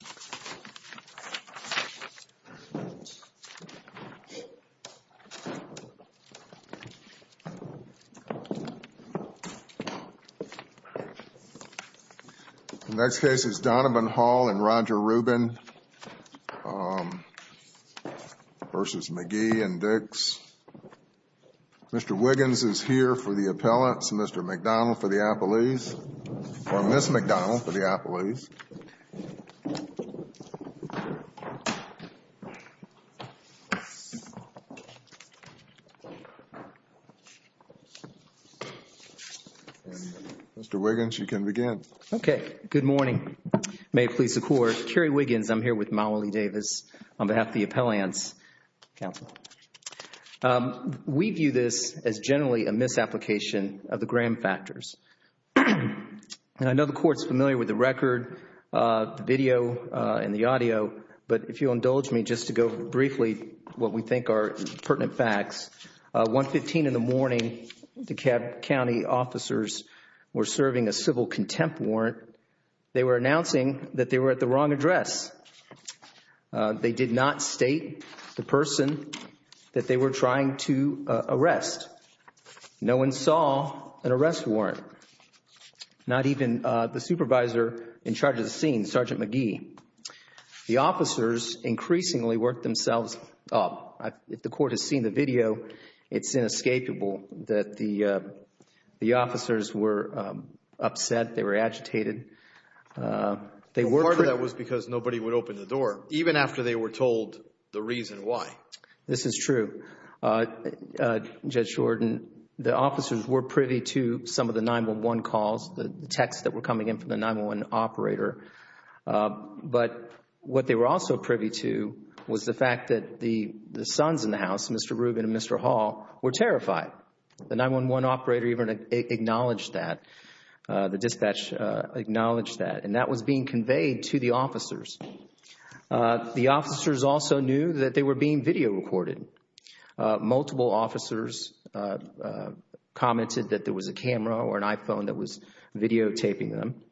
The next case is Donovan Hall and Roger Rubin v. McGhee and Dix. Mr. Wiggins is here for the appellants, Mr. McDonald for the appellees, or Ms. McDonald for the appellees. Mr. Wiggins, you can begin. Okay. Good morning. May it please the Court, Kerry Wiggins, I'm here with Mauli Davis on behalf of the Appellants Council. We view this as generally a misapplication of the record, the video and the audio. But if you'll indulge me just to go briefly what we think are pertinent facts, 115 in the morning, the county officers were serving a civil contempt warrant. They were announcing that they were at the wrong address. They did not state the supervisor in charge of the scene, Sergeant McGhee. The officers increasingly worked themselves up. If the Court has seen the video, it's inescapable that the officers were upset, they were agitated. Part of that was because nobody would open the door, even after they were told the reason why. This is true. Judge Jordan, the officers were privy to some of the 911 calls, the texts that were coming in from the 911 operator. But what they were also privy to was the fact that the sons in the house, Mr. Rubin and Mr. Hall, were terrified. The 911 operator even acknowledged that, the dispatch acknowledged that, and that was being conveyed to the officers. The officers also knew that they were being video recorded. Multiple officers commented that there was a camera or an iPhone that was videotaping them.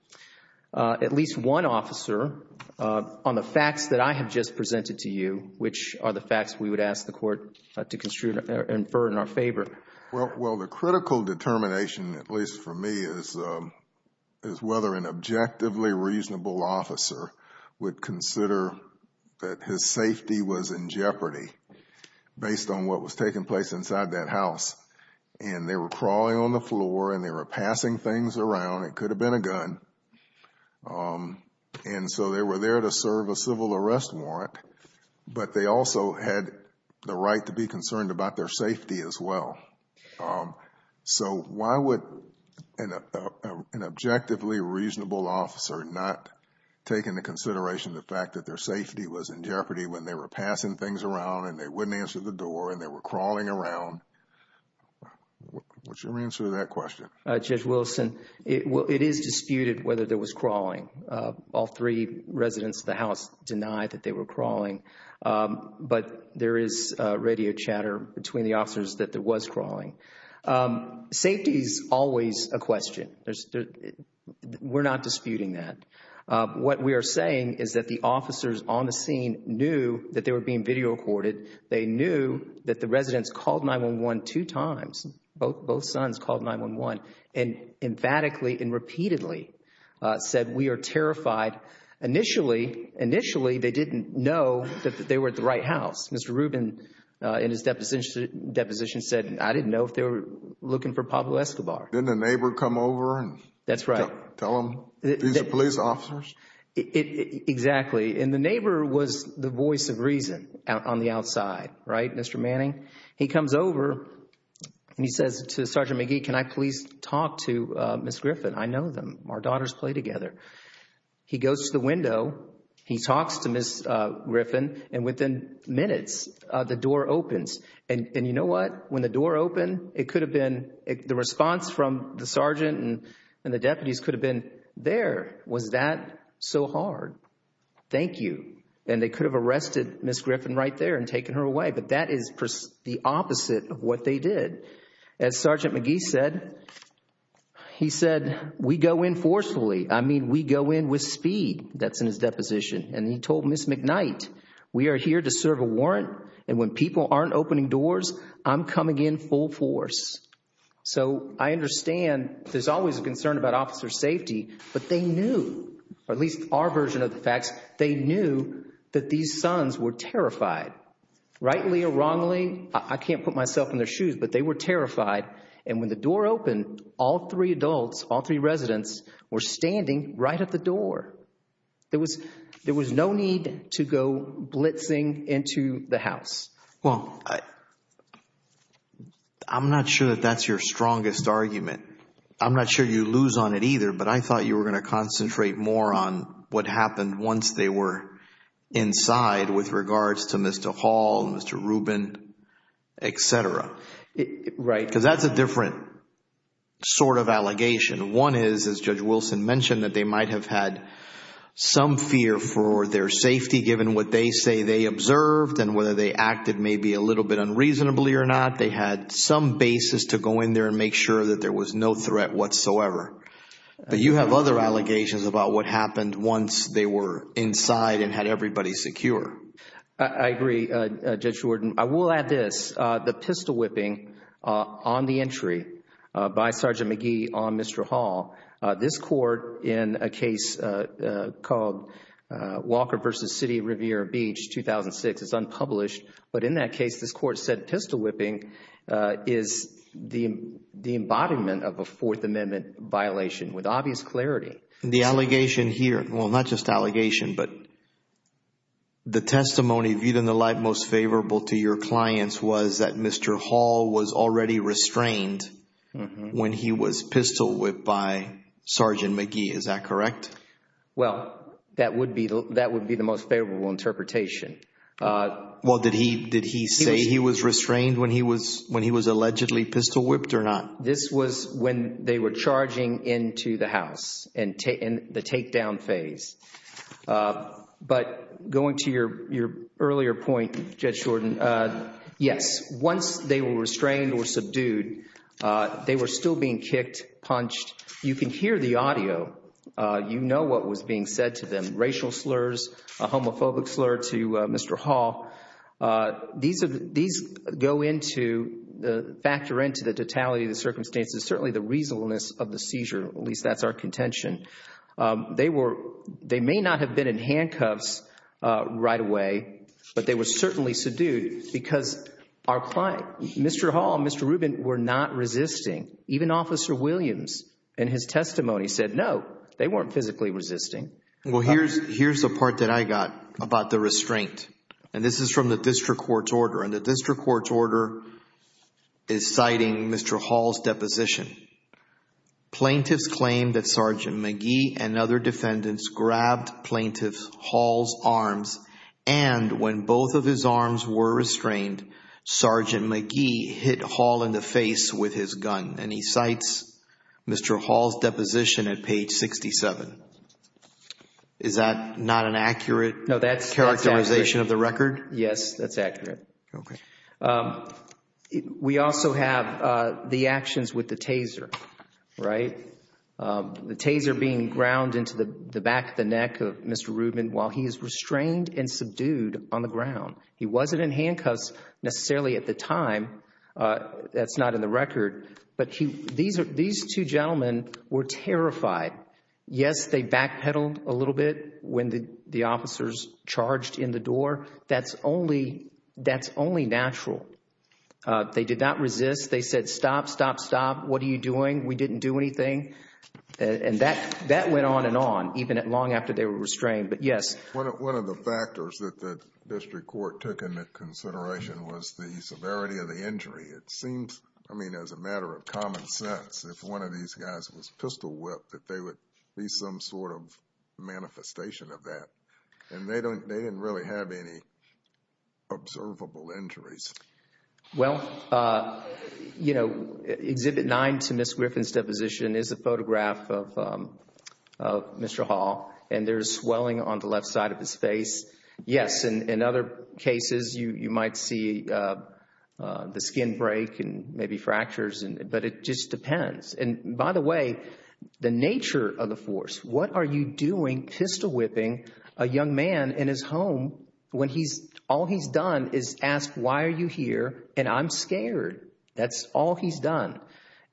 At least one officer, on the facts that I have just presented to you, which are the facts we would ask the Court to infer in our favor. Well, the critical determination, at least for me, is whether an objectively reasonable officer would consider that his safety was in jeopardy based on what was taking place inside that house. They were crawling on the floor and they were passing things around. It could have been a gun. They were there to serve a civil arrest warrant, but they also had the right to be concerned about their safety as well. Why would an objectively reasonable officer not take into consideration the fact that their safety was in jeopardy when they were passing things around and they wouldn't answer the door and they were crawling around? Would you answer that question? Judge Wilson, it is disputed whether there was crawling. All three residents of the house denied that they were crawling, but there is radio chatter between the officers that there was crawling. Safety is always a question. We are not disputing that. What we are saying is that the officers on the scene knew that they were being video recorded. They knew that the residents called 911 two times. Both sons called 911 and emphatically and repeatedly said, we are terrified. Initially, they didn't know that they were at the right house. Mr. Rubin in his deposition said I didn't know if they were looking for Pablo Escobar. Didn't a neighbor come over and tell them these are police officers? Exactly. The neighbor was the voice of reason on the outside. Mr. Manning, he comes over and he says to Sergeant McGee, can I please talk to Ms. Griffin? I know them. Our daughters play together. He goes to the window. He talks to Ms. Griffin and within minutes, the door opens. You know what? When the door opened, the response from the sergeant and the deputies could have been there. Was that so hard? Thank you. They could have arrested Ms. Griffin right there and taken her away. That is the opposite of what they did. As Sergeant McGee said, we go in forcefully. I mean, we go in with speed. That's in his deposition. He told Ms. McKnight, we are here to serve a warrant and when people aren't opening doors, I'm coming in full force. So I understand there's always a concern about officer safety, but they knew, or at least our version of the facts, they knew that these sons were terrified. Rightly or wrongly, I can't put myself in their shoes, but they were terrified. And when the door opened, all three adults, all three residents, were standing right at the door. There was no need to go blitzing into the house. Well, I'm not sure that that's your strongest argument. I'm not sure you lose on it either, but I thought you were going to concentrate more on what happened once they were inside with regards to Mr. Hall, Mr. Rubin, et cetera, because that's a different sort of allegation. One is, as Judge Wilson mentioned, that they might have had some fear for their safety given what they say they observed and whether they acted maybe a little bit unreasonably or not. They had some basis to go in there and make sure that there was no threat whatsoever. But you have other allegations about what happened once they were inside and had everybody secure. I agree, Judge Jordan. I will add this. The pistol whipping on the entry by Sergeant McGee on Mr. Hall, this court in a case called Walker v. City of Riviera Beach, 2006, it's unpublished. But in that case, this court said pistol whipping is the embodiment of a Fourth Amendment violation with obvious clarity. The allegation here, well, not just allegation, but the testimony viewed in the light most by Sergeant McGee. Is that correct? Well, that would be the most favorable interpretation. Well, did he say he was restrained when he was allegedly pistol whipped or not? This was when they were charging into the house in the takedown phase. But going to your earlier point, Judge Jordan, yes, once they were restrained or subdued, they were still being kicked, punched. You can hear the audio. You know what was being said to them, racial slurs, a homophobic slur to Mr. Hall. These go into, factor into the totality of the circumstances, certainly the reasonableness of the seizure, at least that's our contention. They were, they may not have been in handcuffs right away, but they were certainly subdued because our client, Mr. Hall and Mr. Rubin, were not resisting. Even Officer Williams in his testimony said, no, they weren't physically resisting. Well, here's the part that I got about the restraint. And this is from the district court's order. And the district court's order is citing Mr. Hall's deposition. Plaintiffs claim that Sergeant McGee and other defendants grabbed plaintiff Hall's arms. And when both of his arms were restrained, Sergeant McGee hit Hall in the face with his gun and he cites Mr. Hall's deposition at page 67. Is that not an accurate characterization No, that's accurate. Yes, that's accurate. We also have the actions with the taser, right? The taser being ground into the back of the defendant and subdued on the ground. He wasn't in handcuffs necessarily at the time. That's not in the record. But these two gentlemen were terrified. Yes, they backpedaled a little bit when the officers charged in the door. That's only natural. They did not resist. They said, stop, stop, stop. What are you doing? We didn't do anything. And that went on and on, even long after they were restrained. But yes. One of the factors that the district court took into consideration was the severity of the injury. It seems, I mean, as a matter of common sense, if one of these guys was pistol whipped, that there would be some sort of manifestation of that. And they didn't really have any observable injuries. Well, you know, Exhibit 9 to Ms. Griffin's deposition is a photograph of Mr. Hall, and there's swelling on the left side of his face. Yes, in other cases, you might see the skin break and maybe fractures, but it just depends. And by the way, the nature of the force, what are you doing pistol whipping a young man in his home when all he's done is ask, why are you here? And I'm scared. That's all he's done.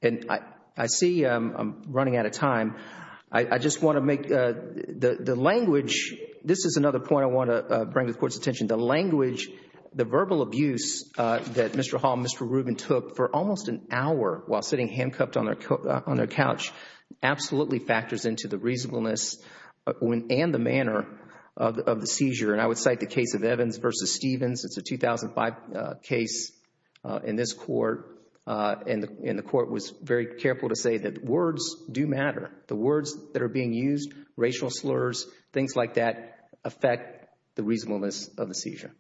And I see I'm running out of time. I just want to make the language, this is another point I want to bring to the Court's attention, the language, the verbal abuse that Mr. Hall and Mr. Rubin took for almost an hour while sitting handcuffed on their couch absolutely factors into the reasonableness and the manner of the seizure. And I would cite the case of Evans v. Stevens. It's a 2005 case in this Court, and the Court was very careful to say that words do matter. The words that are being used, racial slurs, things like that affect the reasonableness of the seizure.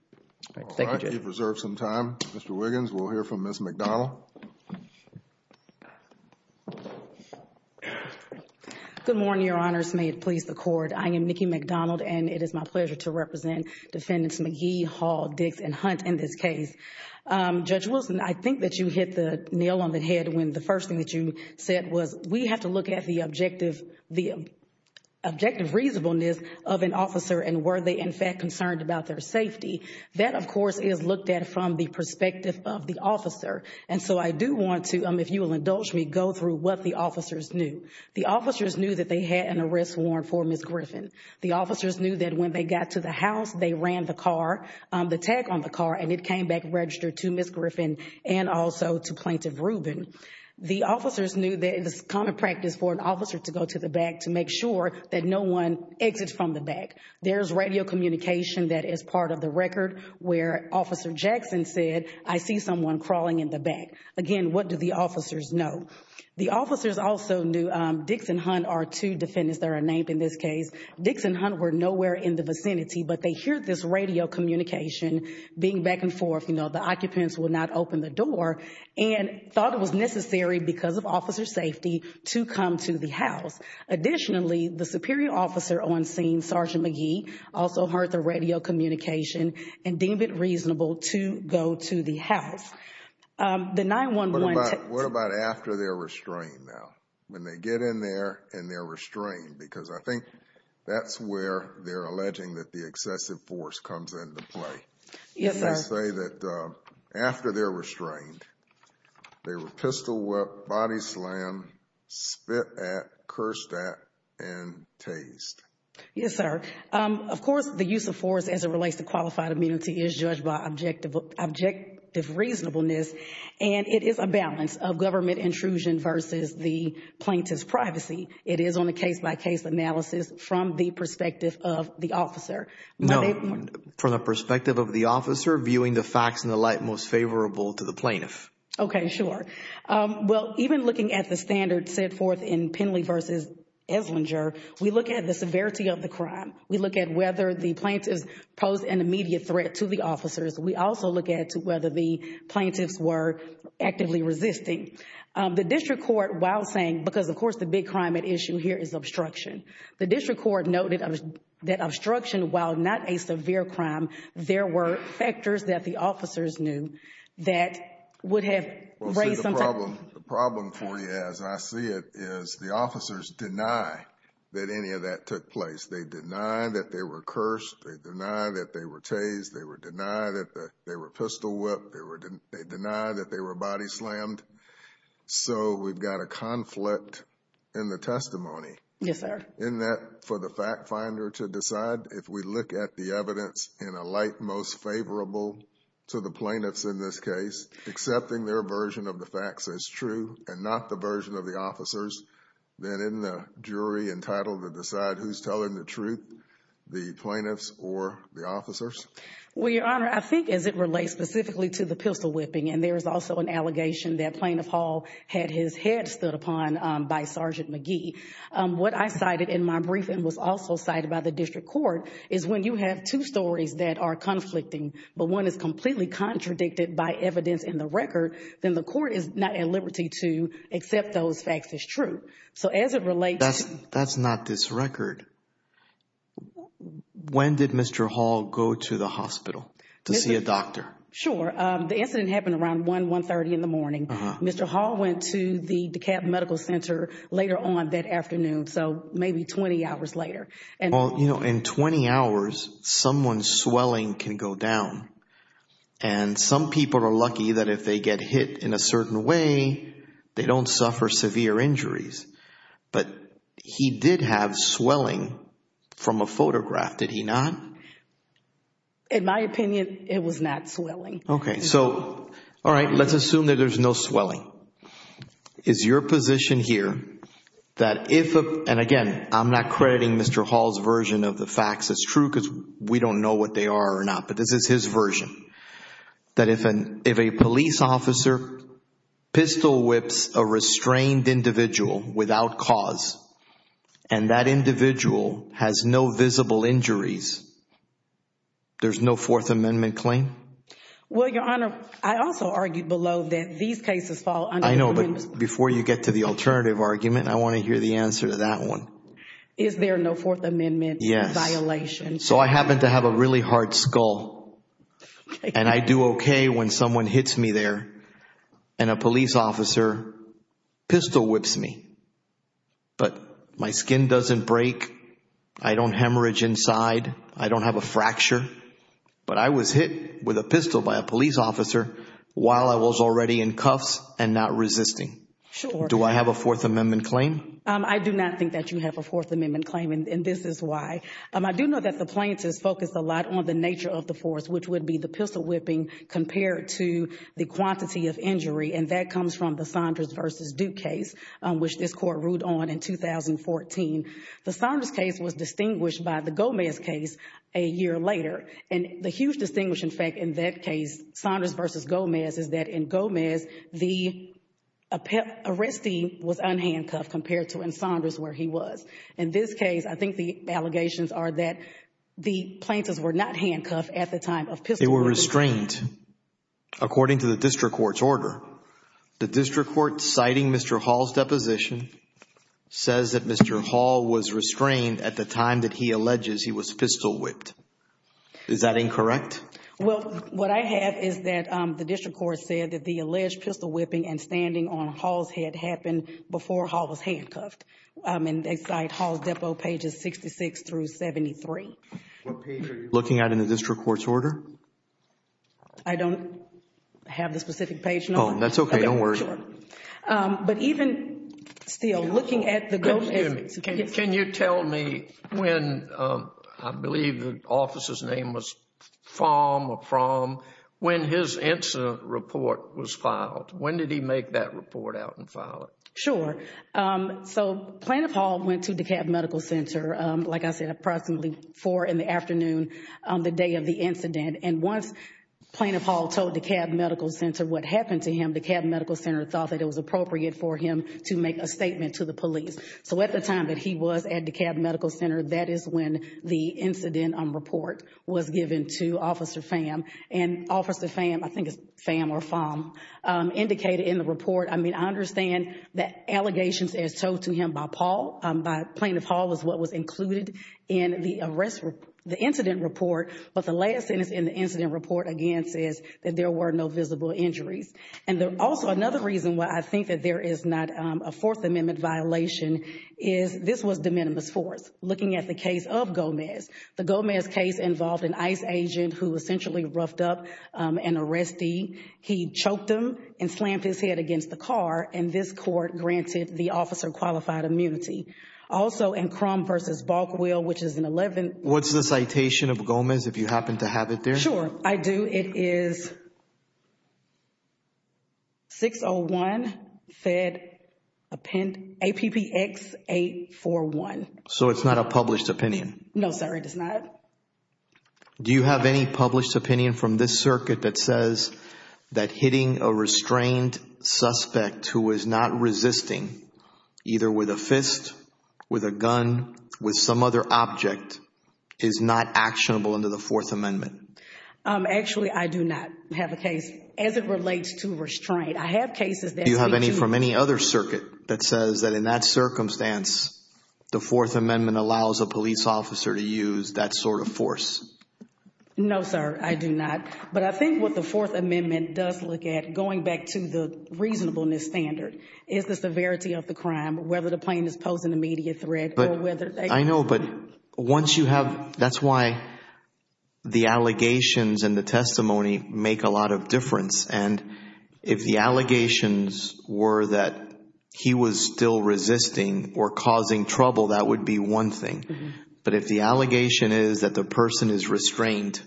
Thank you, Jay. All right. You've reserved some time. Mr. Wiggins, we'll hear from Ms. McDonald. Good morning, Your Honors. May it please the Court. I am Nikki McDonald, and it is my pleasure to represent Defendants McGee, Hall, Dix, and Hunt in this case. Judge Wilson, I think that you hit the nail on the head when the first thing that you said was we have to look at the objective reasonableness of an officer, and were they in fact concerned about their safety. That, of course, is looked at from the perspective of the officer. And so I do want to, if you will indulge me, go through what the officers knew. The officers knew that they had an arrest warrant for Ms. Griffin. The officers knew that when they got to the house, they ran the car, the tag on the car, and it came back registered to Ms. Griffin and also to Plaintiff Rubin. The officers knew that it is common practice for an officer to go to the back to make sure that no one exits from the back. There's radio communication that is part of the record where Officer Jackson said, I see someone crawling in the back. Again, what do the officers know? The officers also knew Dix and Hunt are two defendants that are named in this case. Dix and Hunt were nowhere in the vicinity, but they hear this radio communication being back and forth, you know, the occupants will not open the door, and thought it was necessary because of officer's safety to come to the house. Additionally, the superior officer on scene, Sergeant McGee, also heard the radio communication and deemed it reasonable to go to the house. The 911... What about after they're restrained now? When they get in there and they're restrained? Because I think that's where they're alleging that the excessive force comes into play. Yes, sir. They say that after they're restrained, they were pistol whipped, body slammed, spit at, cursed at, and tased. Yes, sir. Of course, the use of force as it relates to qualified immunity is judged by objective reasonableness, and it is a balance of government intrusion versus the plaintiff's case analysis from the perspective of the officer. No, from the perspective of the officer viewing the facts in the light most favorable to the plaintiff. Okay, sure. Well, even looking at the standard set forth in Penley versus Eslinger, we look at the severity of the crime. We look at whether the plaintiffs posed an immediate threat to the officers. We also look at whether the plaintiffs were actively resisting. The district court, while saying, because of course the big crime at issue here is obstruction, the district court noted that obstruction, while not a severe crime, there were factors that the officers knew that would have raised some type of... The problem for you, as I see it, is the officers deny that any of that took place. They deny that they were cursed. They deny that they were tased. They deny that they were pistol slammed. So we've got a conflict in the testimony. Yes, sir. In that, for the fact finder to decide, if we look at the evidence in a light most favorable to the plaintiffs in this case, accepting their version of the facts as true and not the version of the officers, then isn't the jury entitled to decide who's telling the truth, the plaintiffs or the officers? Well, Your Honor, I think as it relates specifically to the pistol whipping, and there is also an allegation that Plaintiff Hall had his head stood upon by Sergeant McGee. What I cited in my briefing was also cited by the district court, is when you have two stories that are conflicting, but one is completely contradicted by evidence in the record, then the court is not at liberty to accept those facts as true. So as it relates... That's not this record. When did Mr. Hall go to the hospital to see a doctor? Sure. The incident happened around 1, 1.30 in the morning. Mr. Hall went to the DeKalb Medical Center later on that afternoon, so maybe 20 hours later. Well, you know, in 20 hours, someone's swelling can go down. And some people are lucky that if they get hit in a certain way, they don't suffer severe injuries. But he did have swelling from a photograph, did he not? In my opinion, it was not swelling. Okay. So, all right, let's assume that there's no swelling. Is your position here that if, and again, I'm not crediting Mr. Hall's version of the facts as true because we don't know what they are or not, but this is his version, that if a police officer pistol whips a restrained individual without cause, and that individual has no visible injuries, there's no Fourth Amendment claim? Well, Your Honor, I also argued below that these cases fall under the Fourth Amendment. I know, but before you get to the alternative argument, I want to hear the answer to that one. Is there no Fourth Amendment violation? Yes. So I happen to have a really hard skull, and I do okay when someone hits me there and a police officer pistol whips me. But my skin doesn't break. I don't hemorrhage inside. I don't have a fracture. But I was hit with a pistol by a police officer while I was already in cuffs and not resisting. Sure. Do I have a Fourth Amendment claim? I do not think that you have a Fourth Amendment claim, and this is why. I do know that the plaintiffs focus a lot on the nature of the force, which would be the pistol whipping compared to the quantity of injury, and that comes from the Saunders v. Duke case, which this Court ruled on in 2014. The Saunders case was distinguished by the Gomez case a year later. And the huge distinguish, in fact, in that case, Saunders v. Gomez, is that in Gomez, the arrestee was unhandcuffed compared to in Saunders where he was. In this case, I think the allegations are that the plaintiffs were not handcuffed at the time of pistol whipping. And according to the district court's order, the district court citing Mr. Hall's deposition says that Mr. Hall was restrained at the time that he alleges he was pistol whipped. Is that incorrect? Well, what I have is that the district court said that the alleged pistol whipping and standing on Hall's head happened before Hall was handcuffed. And they cite Hall's depo pages 66 through 73. What page are you looking at in the district court's order? I don't have the specific page. Oh, that's okay. Don't worry. But even still, looking at the Gomez case. Can you tell me when, I believe the officer's name was from or from, when his incident report was filed? When did he make that report out and file it? Sure. So Plaintiff Hall went to DeKalb Medical Center, like I said, approximately four in the afternoon on the day of the incident. And once Plaintiff Hall told DeKalb Medical Center what happened to him, DeKalb Medical Center thought that it was appropriate for him to make a statement to the police. So at the time that he was at DeKalb Medical Center, that is when the incident report was given to Officer Pham. And Officer Pham, I understand that allegations as told to him by Plaintiff Hall was what was included in the incident report. But the last sentence in the incident report, again, says that there were no visible injuries. And also another reason why I think that there is not a Fourth Amendment violation is this was de minimis force. Looking at the case of Gomez, the Gomez case involved an ICE agent who essentially roughed up an arrestee. He choked him and hit him against the car. And this court granted the officer qualified immunity. Also, in Crum v. Bulkwheel, which is an 11- What's the citation of Gomez, if you happen to have it there? Sure, I do. It is 601 Fed Append, APPX 841. So it's not a published opinion? No, sir. It is not. Do you have any published opinion from this circuit that says that hitting a restrained suspect who is not resisting, either with a fist, with a gun, with some other object, is not actionable under the Fourth Amendment? Actually, I do not have a case as it relates to restraint. I have cases that speak to- Do you have any from any other circuit that says that in that circumstance, the Fourth Amendment is a sort of force? No, sir. I do not. But I think what the Fourth Amendment does look at, going back to the reasonableness standard, is the severity of the crime, whether the plaintiff is posing immediate threat or whether they- I know, but once you have, that's why the allegations and the testimony make a lot of difference. And if the allegations were that he was still resisting or causing trouble, that would be one thing. But if the allegation is that the person is restrained,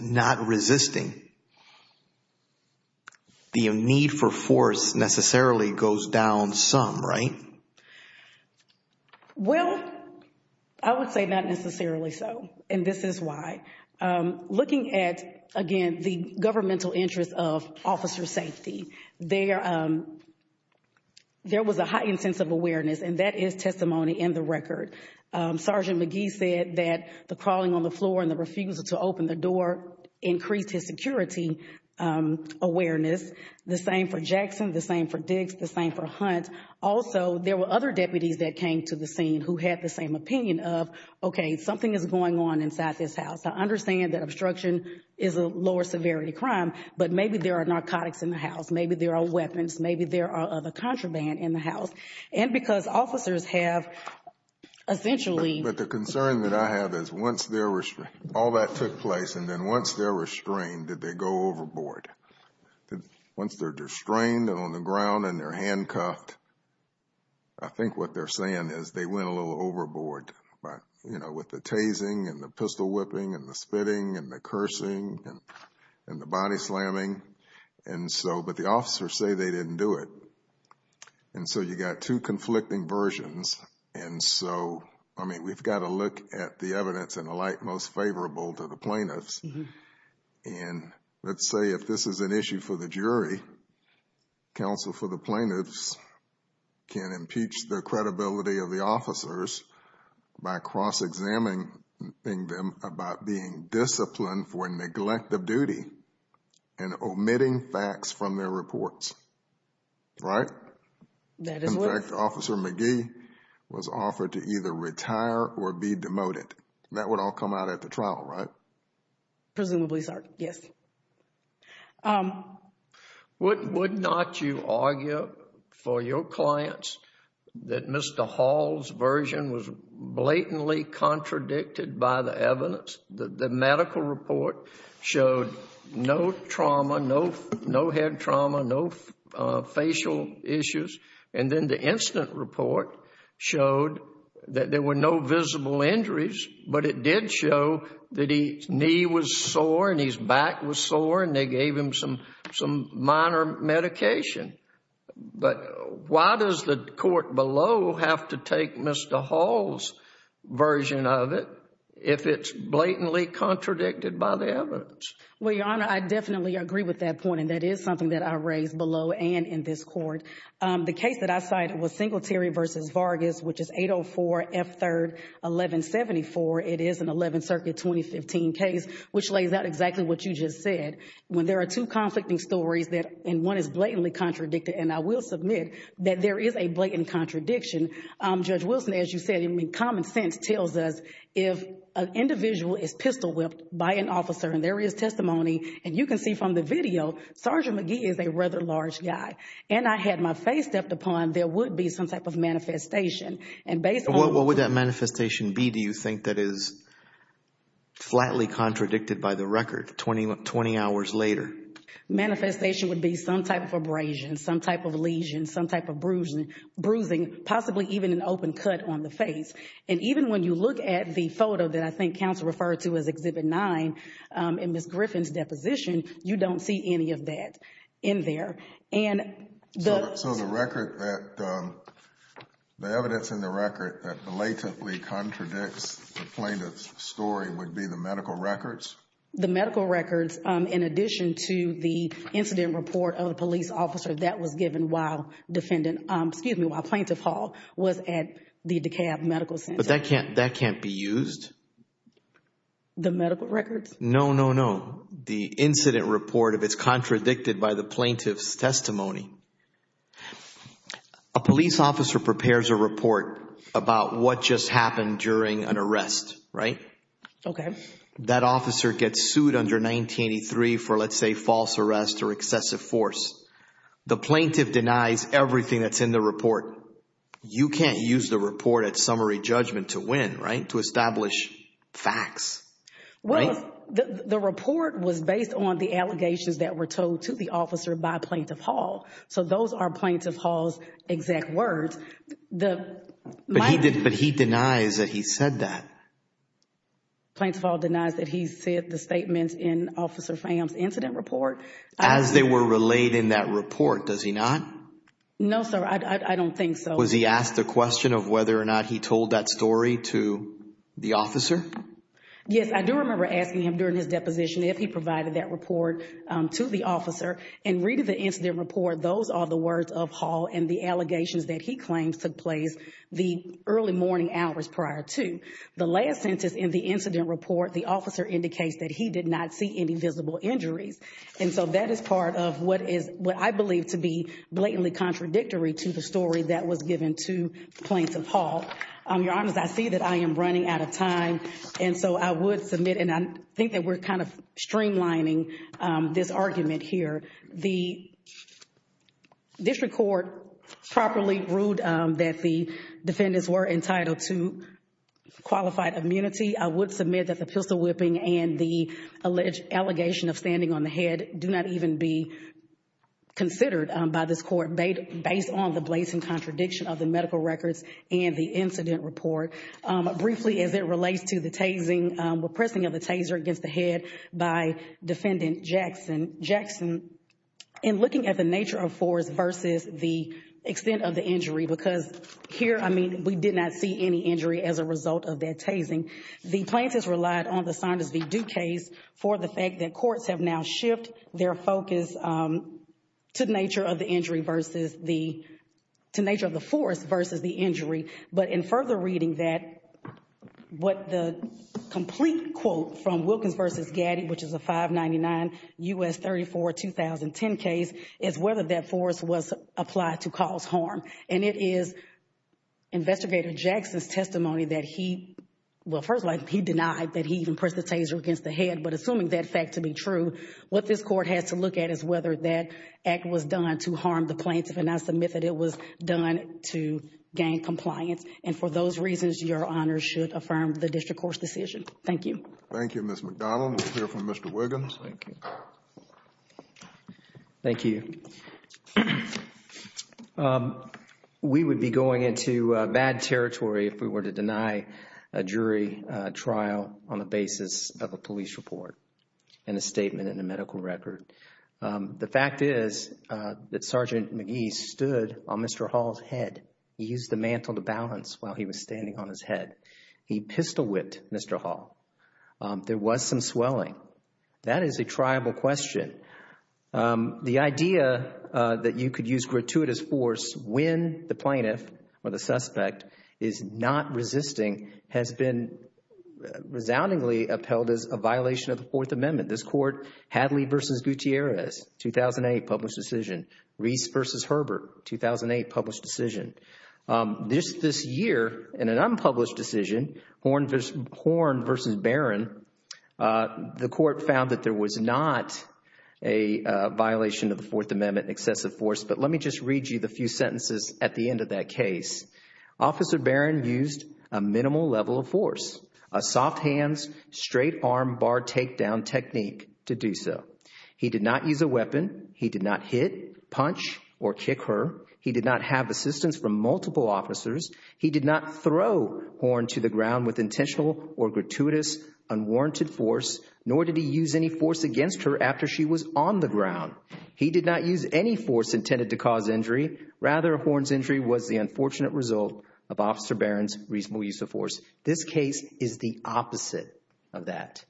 not resisting, the need for force necessarily goes down some, right? Well, I would say not necessarily so. And this is why. Looking at, again, the governmental interest of officer safety, there was a heightened sense of awareness, and that is testimony in the record. Sergeant McGee said that the crawling on the floor and the refusal to open the door increased his security awareness. The same for Jackson, the same for Dix, the same for Hunt. Also, there were other deputies that came to the scene who had the same opinion of, okay, something is going on inside this house. I understand that obstruction is a lower severity crime, but maybe there are narcotics in the house. Maybe there are weapons. Maybe there are other contraband in the house. And because officers have essentially... But the concern that I have is once all that took place, and then once they were restrained, did they go overboard? Once they're restrained and on the ground and they're handcuffed, I think what they're saying is they went a little overboard with the tasing and the pistol whipping and the spitting and the cursing and the body slamming. And so, but the officers say they didn't do it. And so, you got two conflicting versions. And so, I mean, we've got to look at the evidence in a light most favorable to the plaintiffs. And let's say if this is an issue for the jury, counsel for the plaintiffs can impeach the credibility of the officers by cross-examining them about being disciplined for a neglect of duty and omitting facts from their reports. Right? That is what... In fact, Officer McGee was offered to either retire or be demoted. That would all come out at the trial, right? Presumably, sir. Yes. Would not you argue for your clients that Mr. Hall's version was blatantly contradicted by the evidence? The medical report showed no trauma, no head trauma, no facial issues. And then the incident report showed that there were no visible injuries, but it did show that his knee was sore and his back was sore and they gave him some minor medication. But why does the court below have to take Mr. Hall's version of it if it's blatantly contradicted by the evidence? Well, Your Honor, I definitely agree with that point. And that is something that I raised below and in this court. The case that I cited was Singletary v. Vargas, which is 804 F.3.1174. It is an 11th Circuit 2015 case, which lays out exactly what you just said. When there is a blatant contradiction, Judge Wilson, as you said, common sense tells us if an individual is pistol whipped by an officer and there is testimony, and you can see from the video, Sergeant McGee is a rather large guy. And I had my faith stepped upon there would be some type of manifestation. And what would that manifestation be, do you think, that is flatly contradicted by the record 20 hours later? Manifestation would be some type of abrasion, some type of lesion, some type of bruising, possibly even an open cut on the face. And even when you look at the photo that I think counsel referred to as Exhibit 9 in Ms. Griffin's deposition, you don't see any of that in there. So the record that, the evidence in the record that blatantly contradicts the plaintiff's story would be the medical records? The medical records in addition to the incident report of the police officer that was given while defendant, excuse me, while Plaintiff Hall was at the DeKalb Medical Center. But that can't, that can't be used? The medical records? No, no, no. The incident report, if it's contradicted by the plaintiff's testimony. A police officer prepares a report about what just happened during an arrest, right? Okay. That officer gets sued under 1983 for, let's say, false arrest or excessive force. The plaintiff denies everything that's in the report. You can't use the report at summary judgment to win, right? To establish facts, right? The report was based on the allegations that were told to the officer by Plaintiff Hall. So those are Plaintiff Hall's exact words. But he denies that he said that. Plaintiff Hall denies that he said the statements in Officer Pham's incident report. As they were relayed in that report, does he not? No, sir. I don't think so. Was he asked the question of whether or not he told that story to the officer? Yes, I do remember asking him during his deposition if he provided that report to the officer. In reading the incident report, those are the words of Hall and the allegations that he claims took place the early morning hours prior to. The last sentence in the incident report, the officer indicates that he did not see any visible injuries. And so that is part of what is what I believe to be blatantly contradictory to the story that was given to Plaintiff Hall. Your Honor, I see that I am running out of time. And so I would submit, and I think that we're kind of streamlining this argument here. The district court properly ruled that the defendants were entitled to qualified immunity. I would submit that the pistol whipping and the alleged allegation of standing on the head do not even be considered by this court based on the blatant contradiction of the medical records and the incident report. Briefly, as it relates to the tasing, repressing of the taser against the head by defendant Jackson. Jackson, in looking at the nature of force versus the extent of the injury, because here, I mean, we did not see any injury as a result of that tasing. The plaintiffs relied on the Saunders v. Duques for the fact that courts have now shifted their focus to the nature of the injury versus the, to the nature of the force versus the injury. But in further reading that, what the complete quote from Wilkins versus Gaddy, which is the 599 U.S. 34 2010 case, is whether that force was applied to cause harm. And it is investigator Jackson's testimony that he, well, first of all, he denied that he even pressed the taser against the head. But assuming that fact to be true, what this court has to look at is whether that act was done to harm the plaintiff, and I submit that it was done to gain compliance. And for those reasons, your honors should affirm the district court's decision. Thank you. Thank you, Ms. McDonald. We'll hear from Mr. Wiggins. Thank you. We would be going into bad territory if we were to deny a jury trial on the basis of a police report and a statement in a medical record. The fact is that Sergeant McGee stood on Mr. Hall's head. He used the mantle to balance while he was standing on his head. He pistol whipped Mr. Hall. There was some swelling. That is a triable question. The idea that you could use gratuitous force when the plaintiff or the suspect is not resisting has been resoundingly upheld as a violation of the Fourth Amendment. This court, Hadley v. Gutierrez, 2008, published decision. Reese v. Herbert, 2008, published decision. This year, in an unpublished decision, Horne v. Barron, the court found that there was not a violation of the Fourth Amendment, excessive force, but let me just read you the few sentences at the end of that case. Officer Barron used a minimal level of force, a soft hands, straight arm, bar takedown technique to do so. He did not use a weapon. He did not hit, punch, or kick her. He did not have assistance from multiple officers. He did not throw Horne to the ground with intentional or gratuitous unwarranted force, nor did he use any force against her after she was on the ground. He did not use any force intended to cause injury. Rather, Horne's injury was the unfortunate result of Officer Barron's reasonable use of force. This case is the opposite of that.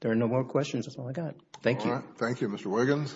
There are no more questions. That's all I got. Thank you. All right. Thank you, Mr. Wiggins.